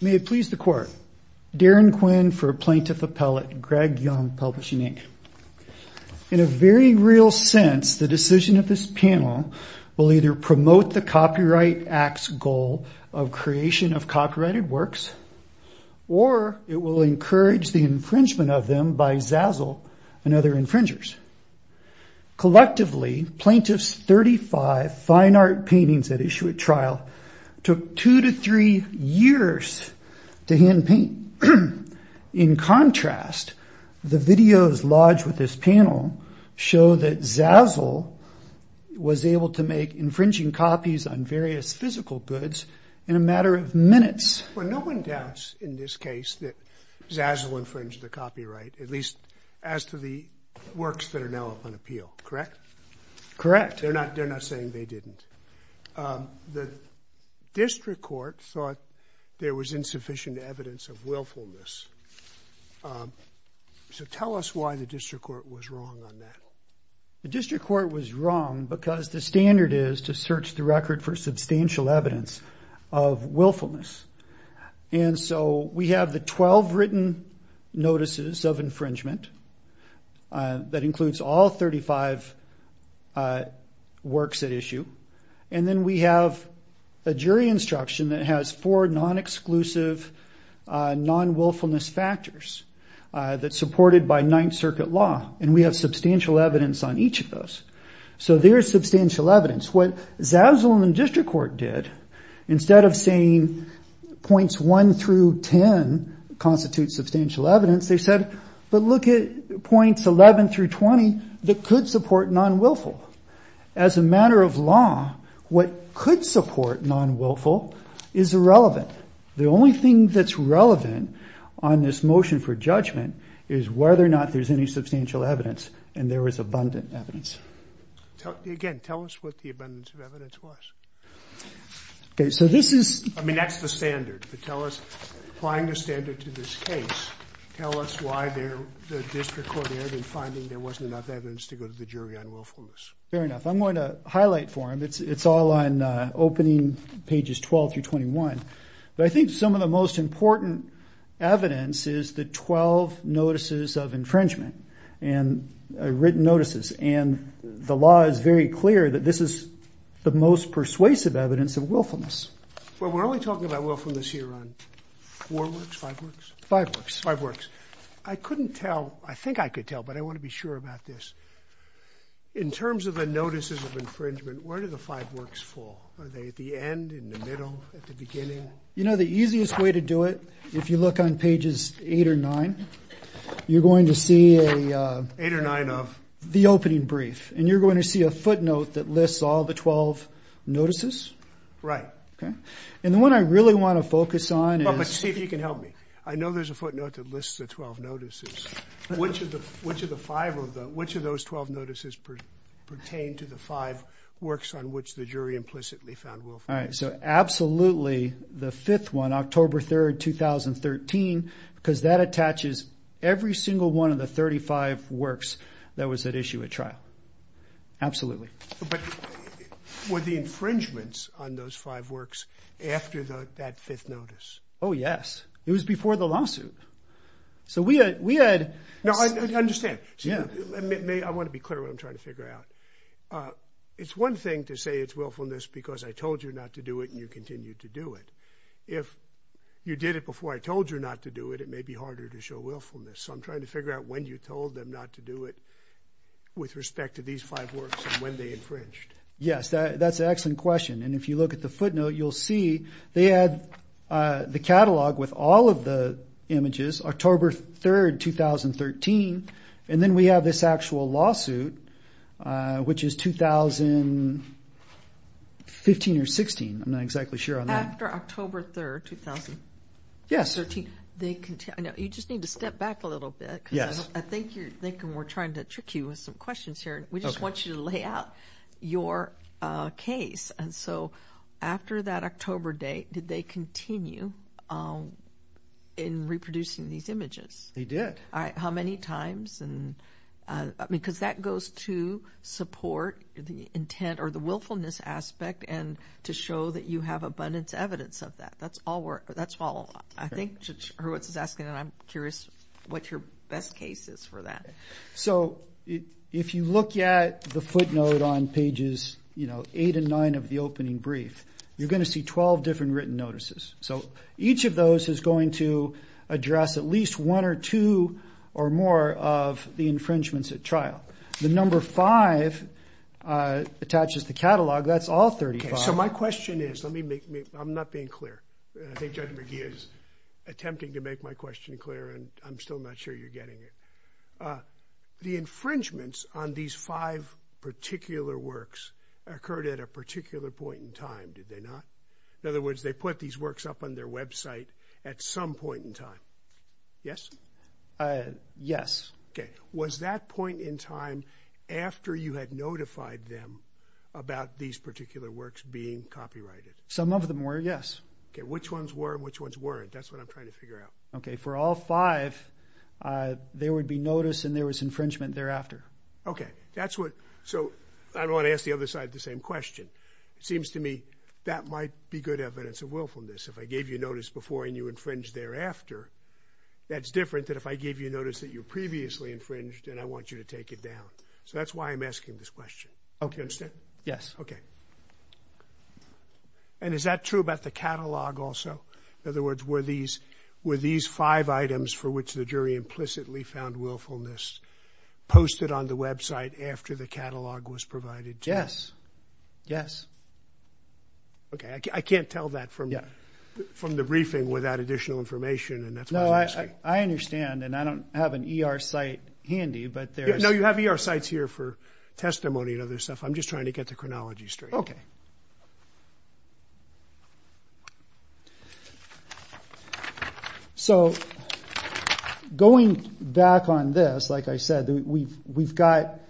May it please the Court, Darren Quinn for Plaintiff Appellate, Greg Young Publishing, Inc. In a very real sense, the decision of this panel will either promote the Copyright Act's goal of creation of copyrighted works, or it will encourage the infringement of them by Zazzle and other infringers. Collectively, Plaintiff's 35 fine art paintings at issue at trial took two to three years to hand-paint. In contrast, the videos lodged with this panel show that Zazzle was able to make infringing copies on various physical goods in a matter of minutes. Well, no one doubts in this case that Zazzle infringed the copyright, at least as to the District Court thought there was insufficient evidence of willfulness. So tell us why the District Court was wrong on that. The District Court was wrong because the standard is to search the record for substantial evidence of willfulness. And so we have the 12 written notices of infringement that includes all a jury instruction that has four non-exclusive non-willfulness factors that's supported by Ninth Circuit law, and we have substantial evidence on each of those. So there's substantial evidence. What Zazzle and the District Court did, instead of saying points 1 through 10 constitute substantial evidence, they said, but look at points 11 through 20 that could support non-willful. As a matter of law, what could support non-willful is irrelevant. The only thing that's relevant on this motion for judgment is whether or not there's any substantial evidence and there was abundant evidence. Again, tell us what the abundance of evidence was. I mean, that's the standard, but tell us, applying the standard to this case, tell us why the District Court ended up finding there wasn't enough evidence to go to the jury on willfulness. Fair enough. I'm going to highlight for him, it's all on opening pages 12 through 21, but I think some of the most important evidence is the 12 notices of infringement and written notices and the law is very clear that this is the most persuasive evidence of willfulness. Well, we're only talking about willfulness here on four works, five works? Five works. Five works. I couldn't tell, I think I could tell, but I want to be sure about this. In terms of the notices of infringement, where do the five works fall? Are they at the end, in the middle, at the beginning? You know, the easiest way to do it, if you look on pages 8 or 9, you're going to see a... 8 or 9 of? The opening brief, and you're going to see a footnote that lists all the 12 notices. Right. Okay. And the one I really want to focus on is... Well, but see if you can help me. I know there's a footnote that lists the 12 notices. Which of the, which of the five of the, which of those 12 notices pertain to the five works on which the jury implicitly found willfulness? All right, so absolutely the fifth one, October 3rd, 2013, because that attaches every single one of the 35 works that was at issue at trial. Absolutely. But were the infringements on those five works after that fifth notice? Oh, yes. It was before the lawsuit. So we had... No, I understand. I want to be clear what I'm trying to figure out. It's one thing to say it's willfulness because I told you not to do it and you continued to do it. If you did it before I told you not to do it, it may be harder to show willfulness. So I'm trying to figure out when you told them not to do it with respect to these five works and when they infringed. Yes, that's an excellent question. And if you look at the footnote, you'll see they had the catalog with all of the images, October 3rd, 2013. And then we have this actual lawsuit, which is 2015 or 16. I'm not exactly sure on that. After October 3rd, 2013, you just need to step back a little bit. Yes. I think you're thinking we're trying to trick you with some questions here. We just want you to lay out your case. And so after that October date, did they continue in reproducing these images? They did. All right. How many times? Because that goes to support the intent or the willfulness aspect and to show that you have abundance evidence of that. That's all. I think what Roberts is asking, and I'm curious what your best case is for that. So if you look at the footnote on pages eight and nine of the opening brief, you're going to see 12 different written notices. So each of those is going to address at least one or two or more of the infringements at trial. The number five attaches the catalog. That's all 35. So my question is, I'm not being clear. I think Judge McGee is attempting to make my question clear, and I'm still not sure you're getting it. The infringements on these five particular works occurred at a particular point in time, did they not? In other words, they put these works up on their website at some point in time. Yes? Yes. Okay. Was that point in time after you had notified them about these particular works being copyrighted? Some of them were, yes. Okay. Which ones were and which ones weren't? That's what I'm trying to figure out. Okay. For all five, there would be notice and there was infringement thereafter. Okay. So I don't want to ask the other side the same question. It seems to me that might be good evidence of willfulness. If I gave you notice before and you infringed thereafter, that's different than if I gave you notice that you previously infringed and I want you to take it down. So that's why I'm asking this question. Do you understand? Yes. Okay. And is that true about the catalog also? In other words, were these five items for which the jury implicitly found willfulness posted on the website after the catalog was provided to you? Yes. Yes. Okay. I can't tell that from the briefing without additional information and that's why I'm asking. No, I understand and I don't have an ER site handy, but there's... No, you have ER sites here for testimony and other stuff. I'm just trying to get the chronology straight. Okay. So going back on this, like I said, we've got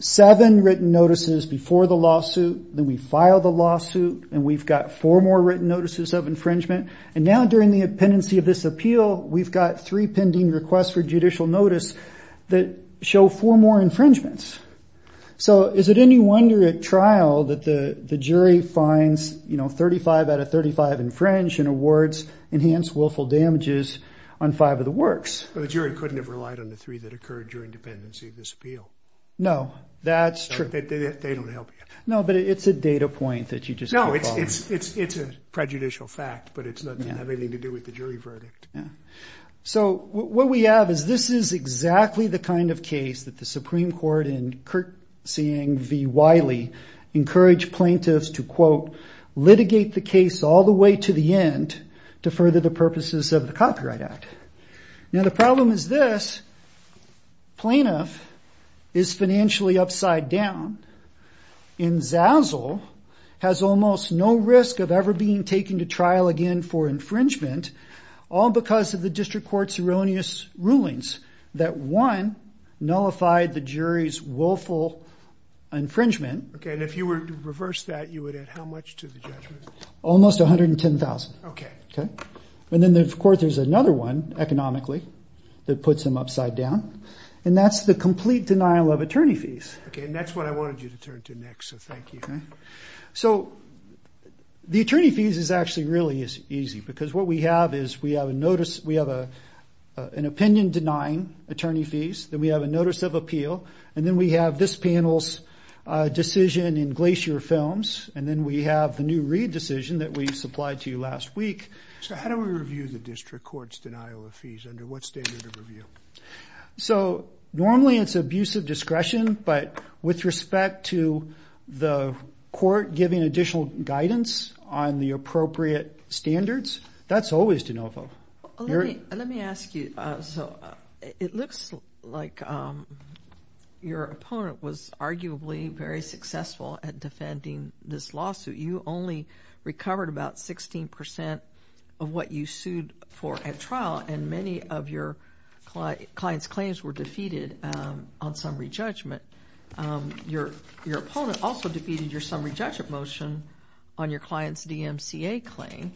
seven written notices before the lawsuit, then we filed the lawsuit, and we've got four more written notices of infringement. And now during the pendency of this appeal, we've got three pending requests for judicial notice that show four more infringements. So is it any wonder at trial that the jury finds 35 out of 35 infringed and awards enhanced willful damages on five of the works? Well, the jury couldn't have relied on the three that occurred during dependency of this appeal. No, that's true. They don't help you. No, but it's a data point that you just can't follow. No, it's a prejudicial fact, but it doesn't have anything to do with the jury verdict. Yeah. So what we have is this is exactly the kind of case that the Supreme Court in curtsying v. Wiley encouraged plaintiffs to, quote, litigate the case all the way to the end to further the purposes of the Copyright Act. Now the problem is this. Plaintiff is exponentially upside down, and Zazzle has almost no risk of ever being taken to trial again for infringement, all because of the district court's erroneous rulings that, one, nullified the jury's willful infringement. Okay. And if you were to reverse that, you would add how much to the judgment? Almost $110,000. Okay. Okay. And then, of course, there's another one, economically, that puts them upside down, and that's the complete denial of attorney fees. Okay. And that's what I wanted you to turn to next, so thank you. So the attorney fees is actually really easy, because what we have is we have an opinion denying attorney fees, then we have a notice of appeal, and then we have this panel's decision in Glacier Films, and then we have the new Reid decision that we supplied to you last week. So how do we review the district court's denial of fees? Under what standard of review? So normally it's abusive discretion, but with respect to the court giving additional guidance on the appropriate standards, that's always de novo. Let me ask you, so it looks like your opponent was arguably very successful at defending this lawsuit. You only recovered about 16% of what you sued for at trial, and many of your client's claims were defeated on summary judgment. Your opponent also defeated your summary judgment motion on your client's DMCA claim,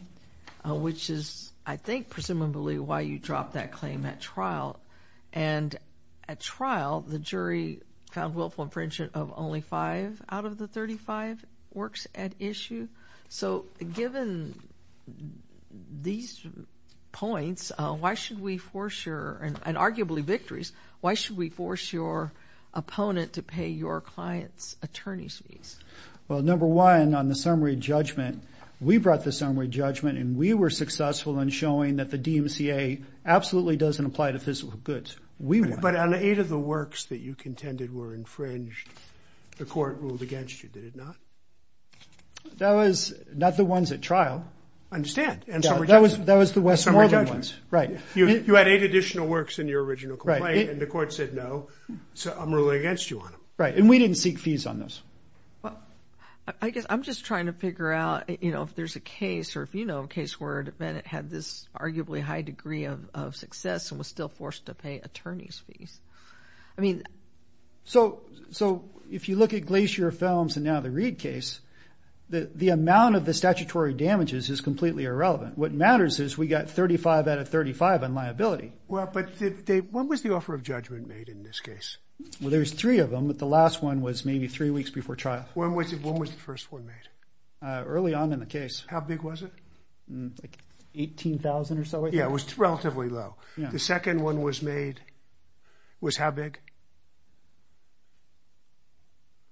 which is, I think, presumably why you dropped that claim at trial. And at trial, the jury found willful infringement of only five out of the 35 works at issue. So given these points, why should we force your, and arguably victories, why should we force your opponent to pay your client's attorney's fees? Well, number one, on the summary judgment, we brought the summary judgment, and we were successful in showing that the DMCA absolutely doesn't apply to physical goods. But on eight of the works that you contended were infringed, the court ruled against you, did it not? That was not the ones at trial. I understand. That was the Westmoreland ones. You had eight additional works in your original complaint, and the court said no, so I'm ruling against you on them. Right, and we didn't seek fees on those. Well, I guess I'm just trying to figure out, you know, if there's a case, or if you know a case where a defendant had this arguably high degree of success and was still forced to pay attorney's fees. I mean... So, if you look at Glacier Films and now the Reed case, the amount of the statutory damages is completely irrelevant. What matters is we got 35 out of 35 on liability. Well, but Dave, when was the offer of judgment made in this case? Well, there's three of them, but the last one was maybe three weeks before trial. When was the first one made? Early on in the case. How big was it? Like 18,000 or so, I think. Yeah, it was relatively low. The second one was made, was how big?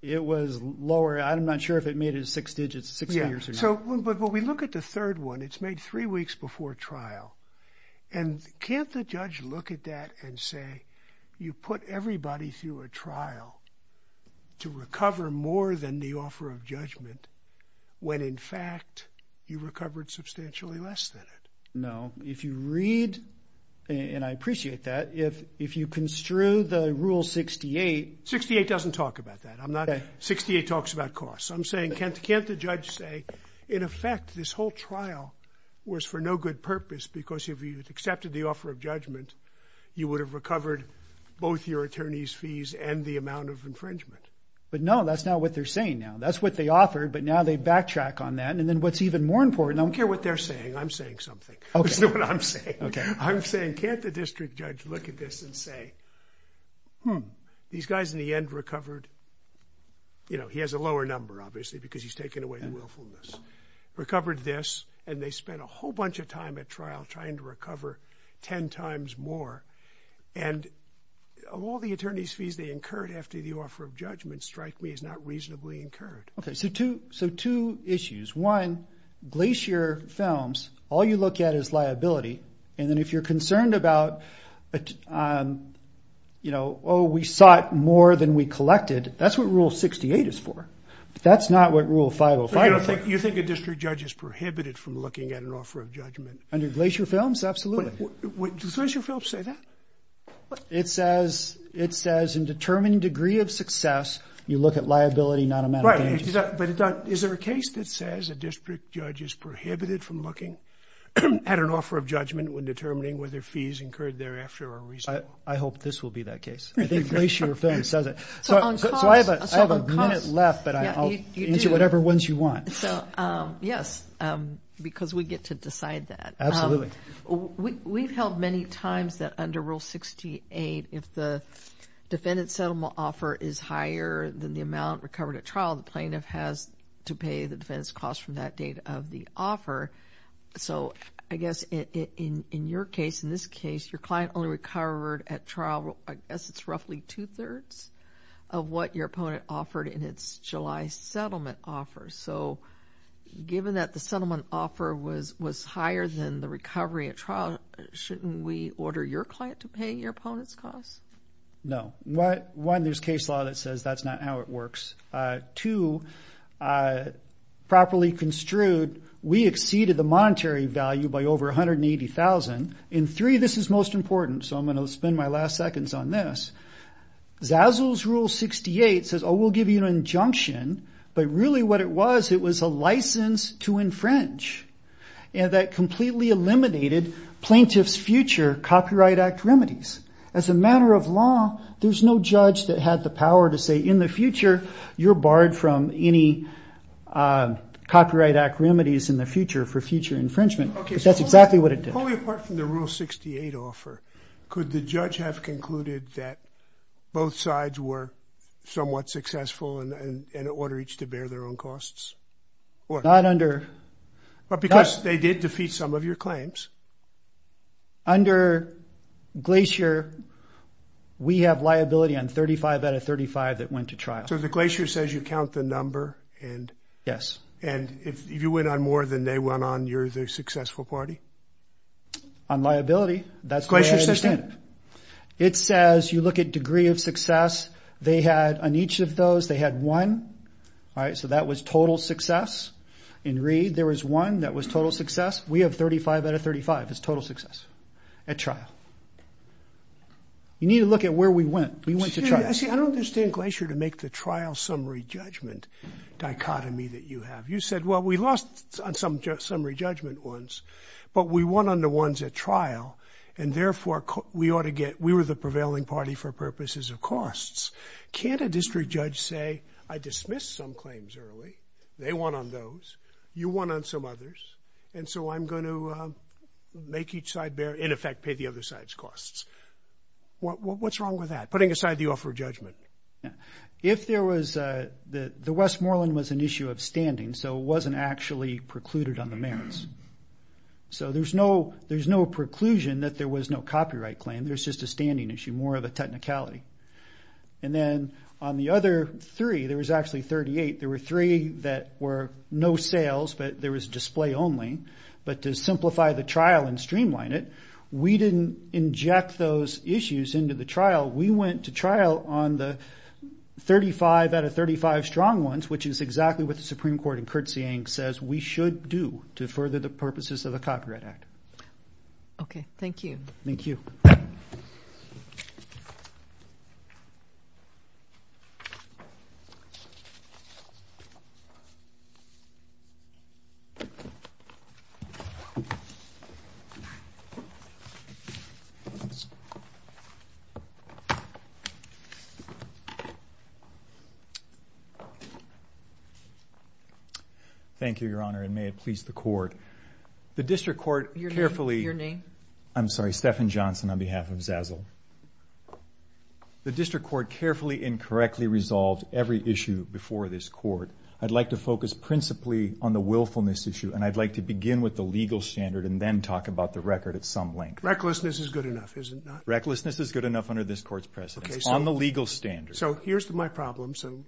It was lower. I'm not sure if it made it six digits, six figures or not. So, but when we look at the third one, it's made three weeks before trial, and can't the judge look at that and say, you put everybody through a trial to recover more than the offer of judgment, when in fact, you recovered substantially less than it? No. If you read, and I appreciate that, if you construe the Rule 68... 68 doesn't talk about that. I'm not... Okay. 68 talks about costs. I'm saying, can't the judge say, in effect, this whole trial was for no good purpose because if you had accepted the offer of judgment, you would have recovered both your attorney's fees and the amount of infringement? But no, that's not what they're saying now. That's what they offered, but now they backtrack on that. And then what's even more important... I don't care what they're saying. I'm saying something. Okay. Listen to what I'm saying. Okay. I'm saying, can't the district judge look at this and say, hmm, these guys in the end recovered... You know, he has a lower number, obviously, because he's taken away the willfulness. Recovered this, and they spent a whole bunch of time at trial trying to recover 10 times more, and of all the attorney's fees they incurred after the offer of judgment, Strike Me is not reasonably incurred. Okay, so two issues. One, Glacier Films, all you look at is liability, and then if you're concerned about, oh, we sought more than we collected, that's what Rule 68 is for, but that's not what Rule 505 is for. You think a district judge is prohibited from looking at an offer of judgment? Under Glacier Films? Absolutely. Does Glacier Films say that? It says, in determined degree of success, you look at liability, not amount of damages. But is there a case that says a district judge is prohibited from looking at an offer of judgment when determining whether fees incurred thereafter are reasonable? I hope this will be that case. I think Glacier Films says it. So I have a minute left, but I'll answer whatever ones you want. Yes, because we get to decide that. Absolutely. We've held many times that under Rule 68, if the defendant's settlement offer is higher than the amount recovered at trial, the plaintiff has to pay the defendant's cost from that date of the offer. So I guess in your case, in this case, your client only recovered at trial, I guess it's roughly two-thirds of what your opponent offered in its July settlement offer. So given that the settlement offer was higher than the recovery at trial, shouldn't we order your client to pay your opponent's cost? No. One, there's case law that says that's not how it works. Two, properly construed, we exceeded the monetary value by over $180,000. And three, this is most important, so I'm going to spend my last seconds on this. Zazzle's Rule 68 says, oh, we'll give you an injunction, but really what it was, it was a license to infringe. And that completely eliminated plaintiff's future Copyright Act remedies. As a matter of law, there's no judge that had the power to say, in the future, you're barred from any Copyright Act remedies in the future for future infringement. That's exactly what it did. Probably apart from the Rule 68 offer, could the judge have concluded that both sides were somewhat successful and order each to bear their own costs? Not under... But because they did defeat some of your claims. Under Glacier, we have liability on 35 out of 35 that went to trial. So the Glacier says you count the number and... Yes. And if you went on more than they went on, you're the successful party? On liability, that's what I understand. Glacier says that? It says, you look at degree of success. They had, on each of those, they had one. All right, so that was total success. In Reed, there was one that was total success. We have 35 out of 35 as total success at trial. You need to look at where we went. We went to trial. See, I don't understand Glacier to make the trial summary judgment dichotomy that you have. You said, well, we lost on some summary judgment ones, but we won on the ones at trial, and therefore, we ought to get... We were the prevailing party for purposes of costs. Can't a district judge say, I dismissed some claims early. They won on those. You won on some others. And so I'm going to make each side bear, in effect, pay the other side's costs. What's wrong with that? Putting aside the offer of judgment. If there was a... The Westmoreland was an issue of standing, so it wasn't actually precluded on the merits. So there's no preclusion that there was no copyright claim. There's just a standing issue, more of a technicality. And then on the other three, there was actually 38. There were three that were no sales, but there was display only. But to simplify the trial and streamline it, we didn't inject those issues into the trial. We went to trial on the 35 out of 35 strong ones, which is exactly what the Supreme Court in curtsying says we should do to further the purposes of the Copyright Act. Okay. Thank you. Thank you. Thank you. Thank you, Your Honor, and may it please the Court. The District Court carefully... Your name? I'm sorry. Stefan Johnson on behalf of Zazzle. The District Court carefully and correctly resolved every issue before this Court. I'd like to focus principally on the willfulness issue, and I'd like to begin with the legal standard and then talk about the record at some length. Recklessness is good enough, is it not? Recklessness is good enough under this Court's precedence. Okay, so... On the legal standard. So here's my problem. So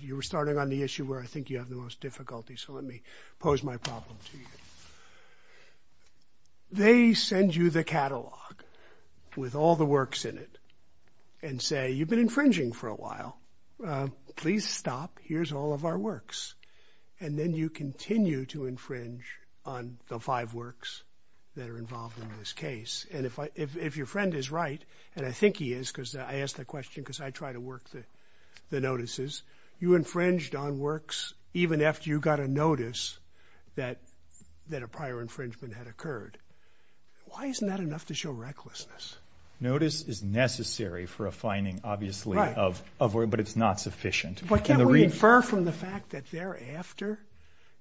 you were starting on the issue where I think you have the most difficulty, so let me pose my problem to you. They send you the catalog with all the works in it and say you've been infringing for a while. Please stop. Here's all of our works. And then you continue to infringe on the five works that are involved in this case. And if your friend is right, and I think he is because I asked that question because I try to work the notices, you infringed on works even after you got a notice that a prior infringement had occurred. Why isn't that enough to show recklessness? Notice is necessary for a finding, obviously, but it's not sufficient. But can't we infer from the fact that thereafter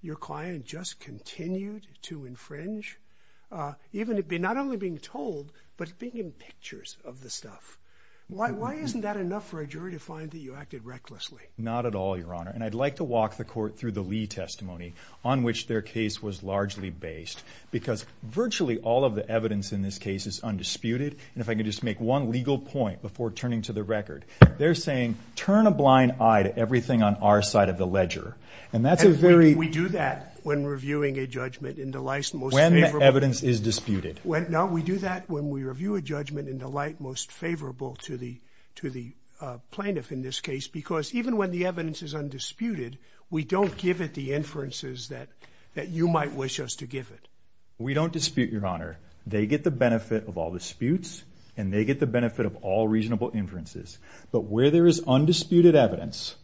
your client just continued to infringe, not only being told, but being in pictures of the stuff? Why isn't that enough for a jury to find that you acted recklessly? Not at all, Your Honor. And I'd like to walk the court through the Lee testimony on which their case was largely based because virtually all of the evidence in this case is undisputed. And if I could just make one legal point before turning to the record, they're saying turn a blind eye to everything on our side of the ledger. And that's a very... And we do that when reviewing a judgment in the light most favorable... When the evidence is disputed. No, we do that when we review a judgment in the light most favorable to the plaintiff in this case because even when the evidence is undisputed, we don't give it the inferences that you might wish us to give it. We don't dispute, Your Honor. They get the benefit of all disputes, and they get the benefit of all reasonable inferences. But where there is undisputed evidence,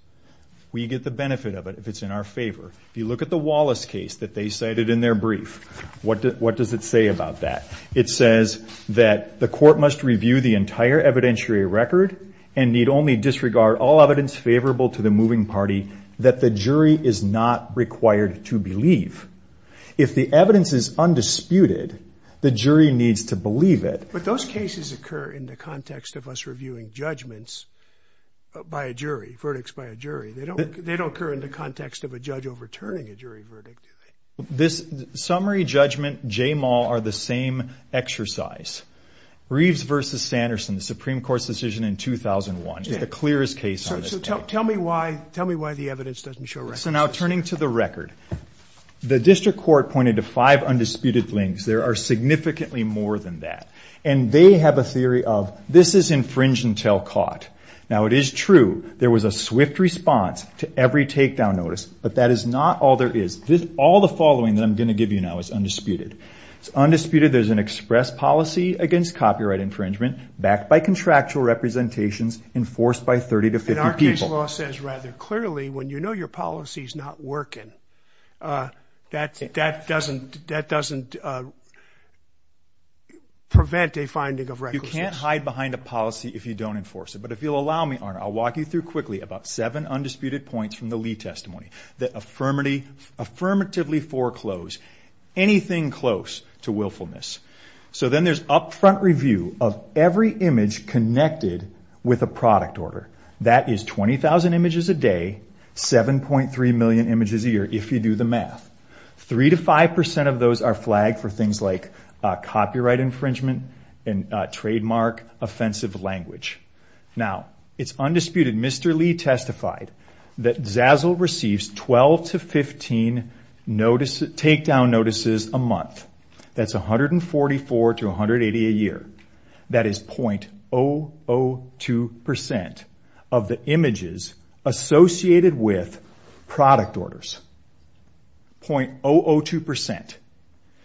we get the benefit of it if it's in our favor. If you look at the Wallace case that they cited in their brief, what does it say about that? It says that the court must review the entire evidentiary record and need only disregard all evidence favorable to the moving party that the jury is not required to believe. If the evidence is undisputed, the jury needs to believe it. But those cases occur in the context of us reviewing judgments by a jury, verdicts by a jury. They don't occur in the context of a judge overturning a jury verdict, do they? Summary judgment, JMAL, are the same exercise. Reeves v. Sanderson, the Supreme Court's decision in 2001, is the clearest case on this case. So tell me why the evidence doesn't show records. So now turning to the record, the district court pointed to five undisputed links. There are significantly more than that. And they have a theory of this is infringe-and-tell caught. Now, it is true there was a swift response to every takedown notice, but that is not all there is. All the following that I'm going to give you now is undisputed. It's undisputed there's an express policy against copyright infringement backed by contractual representations enforced by 30 to 50 people. And our case law says rather clearly when you know your policy is not working, that doesn't prevent a finding of records. You can't hide behind a policy if you don't enforce it. But if you'll allow me, I'll walk you through quickly about seven undisputed points from the Lee testimony that affirmatively foreclose anything close to willfulness. So then there's upfront review of every image connected with a product order. That is 20,000 images a day, 7.3 million images a year if you do the math. Three to five percent of those are flagged for things like copyright infringement and trademark offensive language. Now, it's undisputed Mr. Lee testified that Zazzle receives 12 to 15 takedown notices a month. That's 144 to 180 a year. That is .002 percent of the images associated with product orders. .002 percent.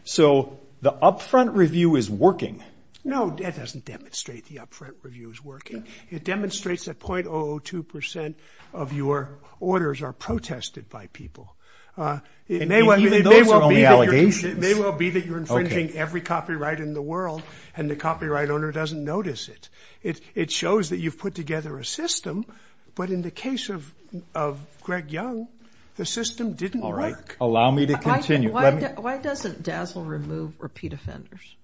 So the upfront review is working. No, that doesn't demonstrate the upfront review is working. It demonstrates that .002 percent of your orders are protested by people. It may well be that you're infringing every copyright in the world and the copyright owner doesn't notice it. It shows that you've put together a system, but in the case of Greg Young, the system didn't work. All right. Allow me to continue. Why doesn't Zazzle remove repeat offenders?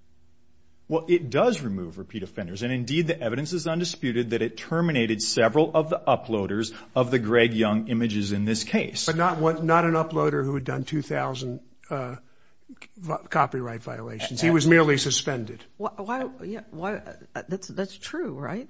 Well, it does remove repeat offenders, and indeed the evidence is undisputed that it terminated several of the uploaders of the Greg Young images in this case. But not an uploader who had done 2,000 copyright violations. He was merely suspended. That's true, right?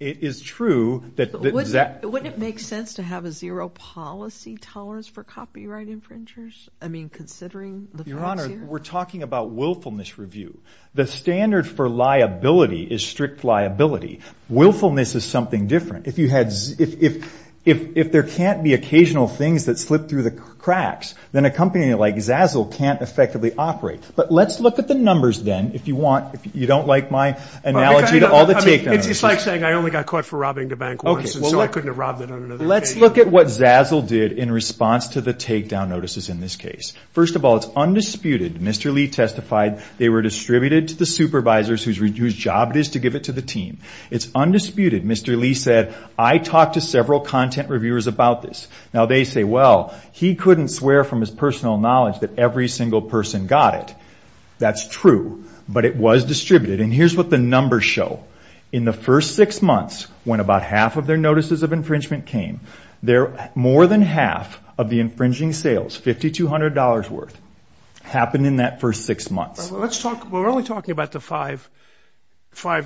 It is true. Wouldn't it make sense to have a zero policy tolerance for copyright infringers? I mean, considering the facts here? Your Honor, we're talking about willfulness review. The standard for liability is strict liability. Willfulness is something different. If there can't be occasional things that slip through the cracks, then a company like Zazzle can't effectively operate. But let's look at the numbers then. If you don't like my analogy to all the takedown notices. It's like saying I only got caught for robbing the bank once, and so I couldn't have robbed it on another occasion. Let's look at what Zazzle did in response to the takedown notices in this case. First of all, it's undisputed. Mr. Lee testified they were distributed to the supervisors whose job it is to give it to the team. It's undisputed. Mr. Lee said, I talked to several content reviewers about this. Now, they say, well, he couldn't swear from his personal knowledge that every single person got it. That's true, but it was distributed. And here's what the numbers show. In the first six months, when about half of their notices of infringement came, more than half of the infringing sales, $5,200 worth, happened in that first six months. Well, we're only talking about the five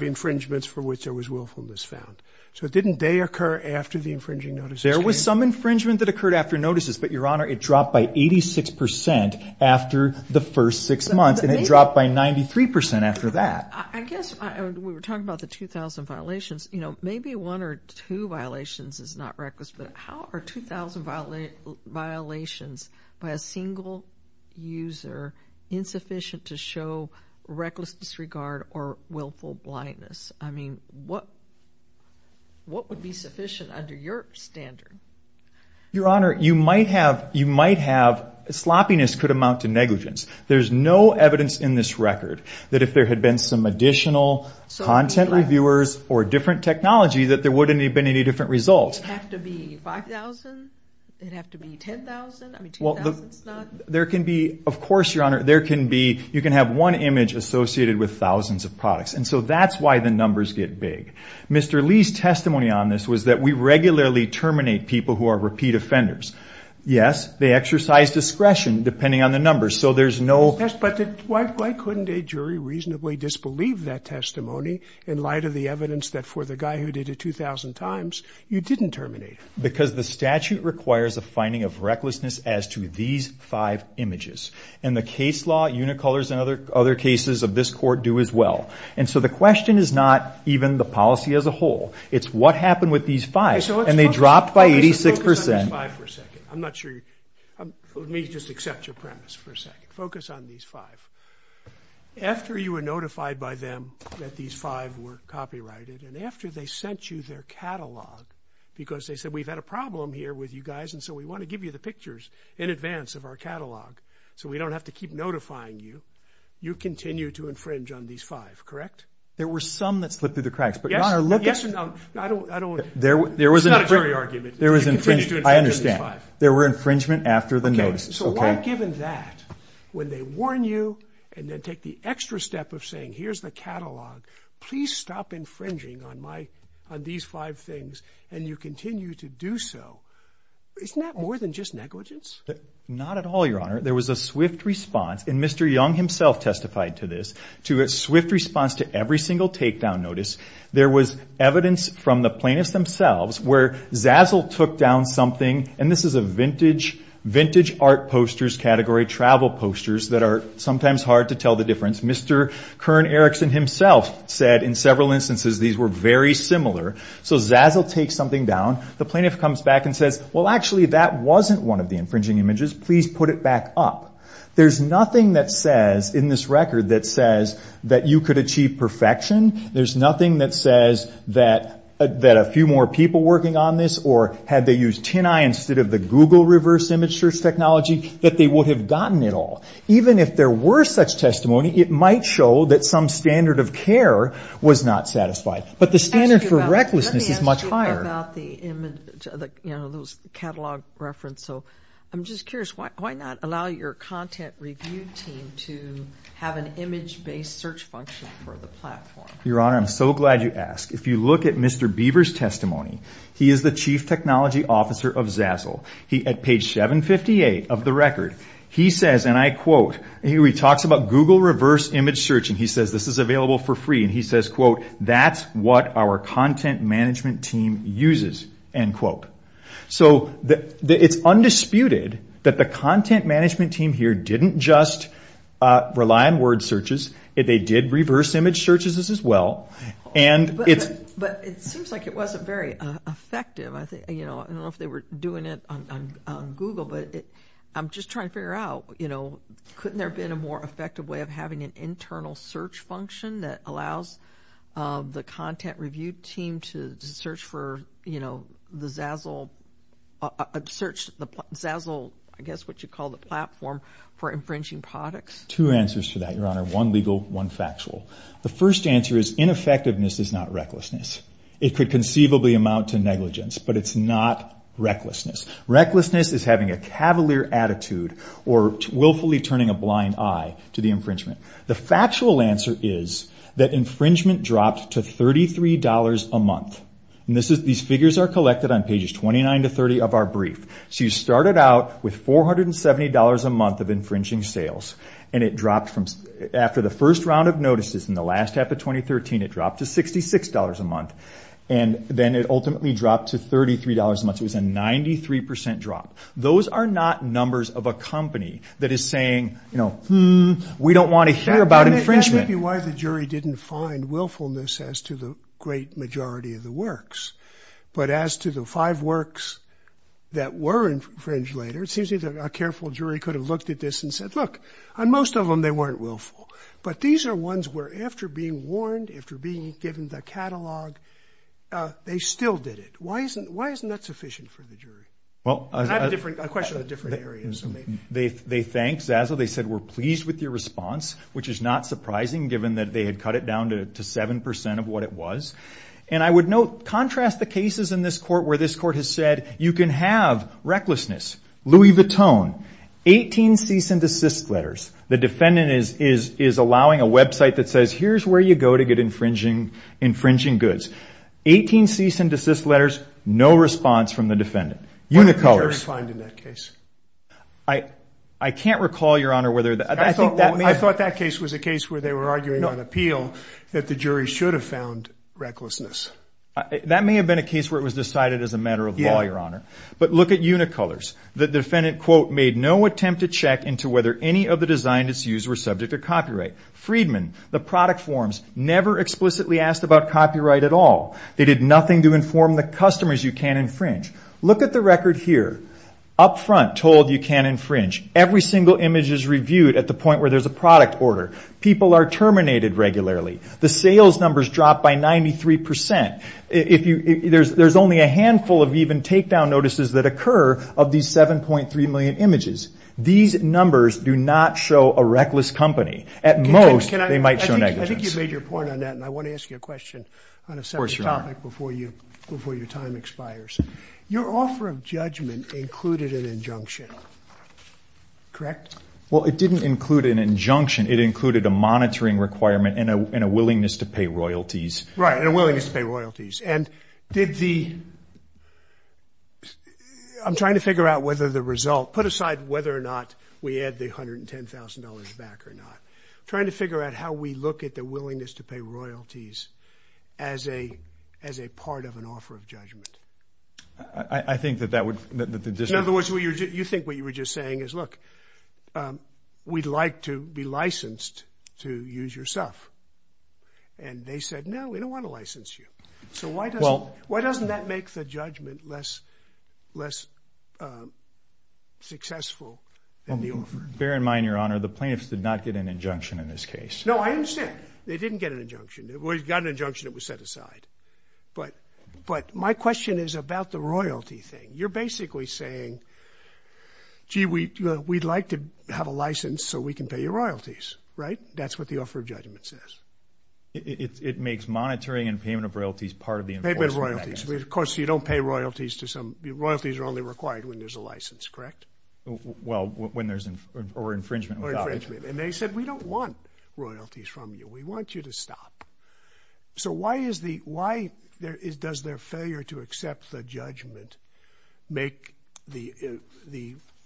infringements for which there was willfulness found. So didn't they occur after the infringing notices came? There was some infringement that occurred after notices, but, Your Honor, it dropped by 86% after the first six months, and it dropped by 93% after that. I guess we were talking about the 2,000 violations. You know, maybe one or two violations is not reckless, but how are 2,000 violations by a single user insufficient to show reckless disregard or willful blindness? I mean, what would be sufficient under your standard? Your Honor, you might have, sloppiness could amount to negligence. There's no evidence in this record that if there had been some additional content reviewers or different technology that there wouldn't have been any different results. Would it have to be 5,000? Would it have to be 10,000? I mean, 2,000 is not. There can be, of course, Your Honor, there can be, you can have one image associated with thousands of products. And so that's why the numbers get big. Mr. Lee's testimony on this was that we regularly terminate people who are repeat offenders. Yes, they exercise discretion depending on the numbers, so there's no... Yes, but why couldn't a jury reasonably disbelieve that testimony in light of the evidence that for the guy who did it 2,000 times, you didn't terminate him? Because the statute requires a finding of recklessness as to these five images. And the case law, Unicolors, and other cases of this court do as well. And so the question is not even the policy as a whole. It's what happened with these five, and they dropped by 86 percent. Okay, so let's focus on these five for a second. I'm not sure you... Let me just accept your premise for a second. Focus on these five. After you were notified by them that these five were copyrighted and after they sent you their catalog because they said, we've had a problem here with you guys, and so we want to give you the pictures in advance of our catalog so we don't have to keep notifying you, you continue to infringe on these five, correct? There were some that slipped through the cracks, but, Your Honor, look at... Yes or no? I don't... There was... It's not a jury argument. There was infringement. You continue to infringe on these five. I understand. There were infringement after the notice. Okay, so why given that, when they warn you and then take the extra step of saying, here's the catalog, please stop infringing on my... on these five things, and you continue to do so, isn't that more than just negligence? Not at all, Your Honor. There was a swift response, and Mr. Young himself testified to this, to a swift response to every single takedown notice. There was evidence from the plaintiffs themselves where Zazzle took down something, and this is a vintage art posters category, travel posters, that are sometimes hard to tell the difference. Mr. Kern Erickson himself said in several instances these were very similar. So Zazzle takes something down. The plaintiff comes back and says, well, actually, that wasn't one of the infringing images. Please put it back up. There's nothing that says in this record that says that you could achieve perfection. There's nothing that says that a few more people working on this or had they used TinEye instead of the Google reverse image search technology, that they would have gotten it all. Even if there were such testimony, it might show that some standard of care was not satisfied. But the standard for recklessness is much higher. Let me ask you about the image, those catalog references. I'm just curious, why not allow your content review team to have an image-based search function for the platform? Your Honor, I'm so glad you asked. If you look at Mr. Beaver's testimony, he is the chief technology officer of Zazzle. At page 758 of the record, he says, and I quote, he talks about Google reverse image search, and he says this is available for free, and he says, quote, that's what our content management team uses, end quote. It's undisputed that the content management team here didn't just rely on word searches. They did reverse image searches as well. But it seems like it wasn't very effective. I don't know if they were doing it on Google, but I'm just trying to figure out, couldn't there have been a more effective way of having an internal search function that allows the content review team to search for the Zazzle, I guess what you call the platform for infringing products? Two answers to that, Your Honor. One legal, one factual. The first answer is ineffectiveness is not recklessness. It could conceivably amount to negligence, but it's not recklessness. Recklessness is having a cavalier attitude or willfully turning a blind eye to the infringement. The factual answer is that infringement dropped to $33 a month. These figures are collected on pages 29 to 30 of our brief. So you started out with $470 a month of infringing sales, and after the first round of notices in the last half of 2013, it dropped to $66 a month. Then it ultimately dropped to $33 a month. It was a 93% drop. Those are not numbers of a company that is saying, we don't want to hear about infringement. That may be why the jury didn't find willfulness as to the great majority of the works. But as to the five works that were infringed later, it seems that a careful jury could have looked at this and said, look, on most of them they weren't willful. But these are ones where after being warned, after being given the catalog, they still did it. Why isn't that sufficient for the jury? I have a question on a different area. They thanked Zazzle. They said, we're pleased with your response, which is not surprising given that they had cut it down to 7% of what it was. And I would note, contrast the cases in this court where this court has said, you can have recklessness. Louis Vuitton, 18 cease and desist letters. The defendant is allowing a website that says, here's where you go to get infringing goods. 18 cease and desist letters, no response from the defendant. Unicolors. What did the jury find in that case? I can't recall, Your Honor, whether. I thought that case was a case where they were arguing on appeal, that the jury should have found recklessness. That may have been a case where it was decided as a matter of law, Your Honor. But look at Unicolors. The defendant, quote, made no attempt to check into whether any of the designs it's used were subject to copyright. Freedman, the product forms, never explicitly asked about copyright at all. They did nothing to inform the customers you can't infringe. Look at the record here. Up front, told you can't infringe. Every single image is reviewed at the point where there's a product order. People are terminated regularly. The sales numbers drop by 93%. There's only a handful of even takedown notices that occur of these 7.3 million images. These numbers do not show a reckless company. At most, they might show negligence. I think you've made your point on that, and I want to ask you a question on a separate topic before your time expires. Your offer of judgment included an injunction, correct? Well, it didn't include an injunction. It included a monitoring requirement and a willingness to pay royalties. Right, and a willingness to pay royalties. And did the – I'm trying to figure out whether the result – put aside whether or not we add the $110,000 back or not. I'm trying to figure out how we look at the willingness to pay royalties as a part of an offer of judgment. I think that that would – that the district – In other words, you think what you were just saying is, look, we'd like to be licensed to use your stuff. And they said, no, we don't want to license you. So why doesn't that make the judgment less successful than the offer? Bear in mind, Your Honor, the plaintiffs did not get an injunction in this case. No, I understand. They didn't get an injunction. They got an injunction that was set aside. But my question is about the royalty thing. You're basically saying, gee, we'd like to have a license so we can pay your royalties. Right? That's what the offer of judgment says. It makes monitoring and payment of royalties part of the enforcement. Payment of royalties. Of course, you don't pay royalties to some – royalties are only required when there's a license, correct? Well, when there's – or infringement without it. Or infringement. And they said, we don't want royalties from you. We want you to stop. So why is the – why does their failure to accept the judgment make the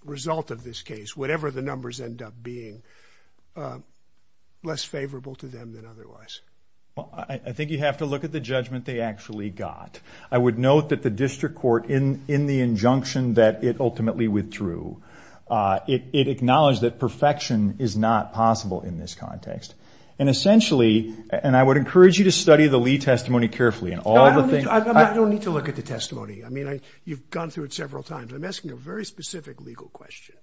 result of this case, whatever the numbers end up being, less favorable to them than otherwise? Well, I think you have to look at the judgment they actually got. I would note that the district court, in the injunction that it ultimately withdrew, it acknowledged that perfection is not possible in this context. And essentially – and I would encourage you to study the Lee testimony carefully. I don't need to look at the testimony. I mean, you've gone through it several times. I'm asking a very specific legal question.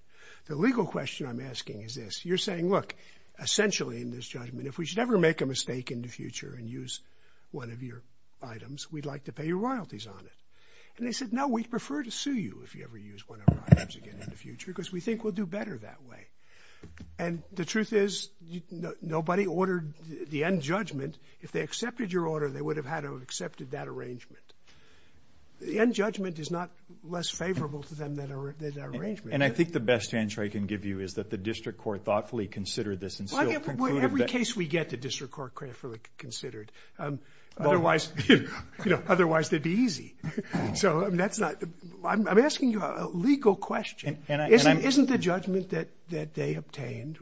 The legal question I'm asking is this. You're saying, look, essentially in this judgment, if we should ever make a mistake in the future and use one of your items, we'd like to pay your royalties on it. And they said, no, we'd prefer to sue you if you ever use one of our items again in the future because we think we'll do better that way. And the truth is nobody ordered the end judgment. If they accepted your order, they would have had to have accepted that arrangement. The end judgment is not less favorable to them than the arrangement. And I think the best answer I can give you is that the district court thoughtfully considered this and still concluded that – Well, every case we get, the district court thoughtfully considered. Otherwise, you know, otherwise it would be easy. So that's not – I'm asking you a legal question. Isn't the judgment that they obtained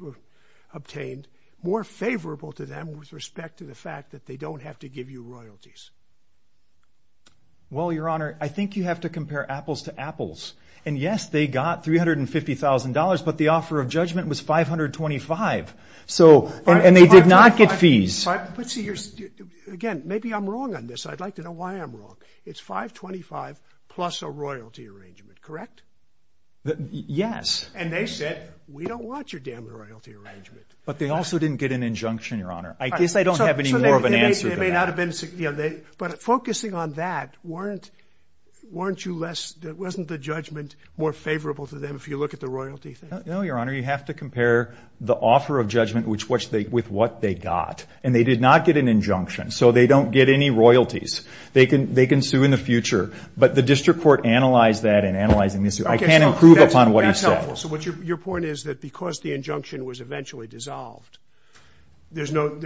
more favorable to them with respect to the fact that they don't have to give you royalties? Well, Your Honor, I think you have to compare apples to apples. And yes, they got $350,000, but the offer of judgment was $525,000. And they did not get fees. But see, again, maybe I'm wrong on this. I'd like to know why I'm wrong. It's $525,000 plus a royalty arrangement, correct? Yes. And they said, we don't want your damn royalty arrangement. But they also didn't get an injunction, Your Honor. I guess I don't have any more of an answer to that. They may not have been – but focusing on that, weren't you less – wasn't the judgment more favorable to them if you look at the royalty thing? No, Your Honor. You have to compare the offer of judgment with what they got. And they did not get an injunction, so they don't get any royalties. They can sue in the future. But the district court analyzed that in analyzing this. I can't improve upon what he said. That's helpful. So your point is that because the injunction was eventually dissolved, there's no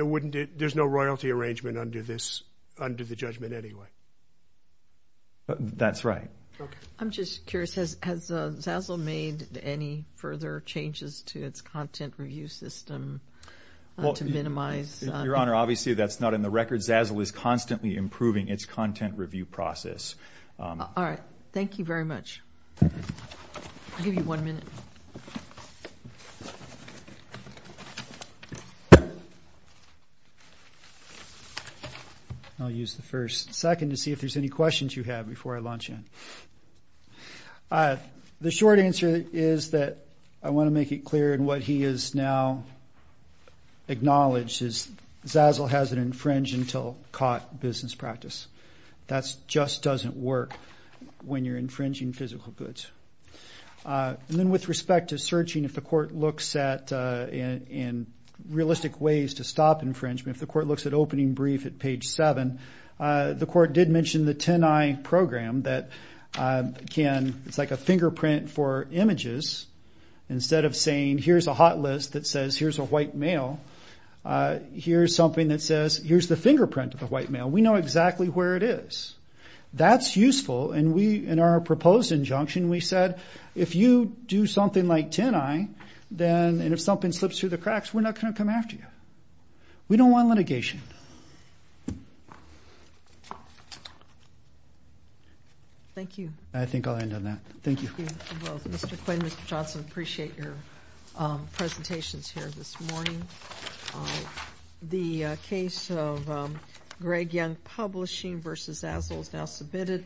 royalty arrangement under the judgment anyway? That's right. Okay. I'm just curious. Has Zazzle made any further changes to its content review system to minimize – Well, Your Honor, obviously that's not in the record. Zazzle is constantly improving its content review process. All right. Thank you very much. I'll give you one minute. I'll use the first second to see if there's any questions you have before I launch in. The short answer is that I want to make it clear in what he has now acknowledged is Zazzle hasn't infringed until caught business practice. That just doesn't work when you're infringing physical goods. And then with respect to searching, if the court looks at realistic ways to stop infringement, if the court looks at opening brief at page 7, the court did mention the 10-I program that can – it's like a fingerprint for images. Instead of saying here's a hot list that says here's a white male, here's something that says here's the fingerprint of a white male. We know exactly where it is. That's useful, and we – in our proposed injunction, we said if you do something like 10-I, then – and if something slips through the cracks, we're not going to come after you. We don't want litigation. Thank you. I think I'll end on that. Thank you. Thank you both. Mr. Quinn, Mr. Johnson, appreciate your presentations here this morning. The case of Greg Young Publishing v. Zazzle is now submitted.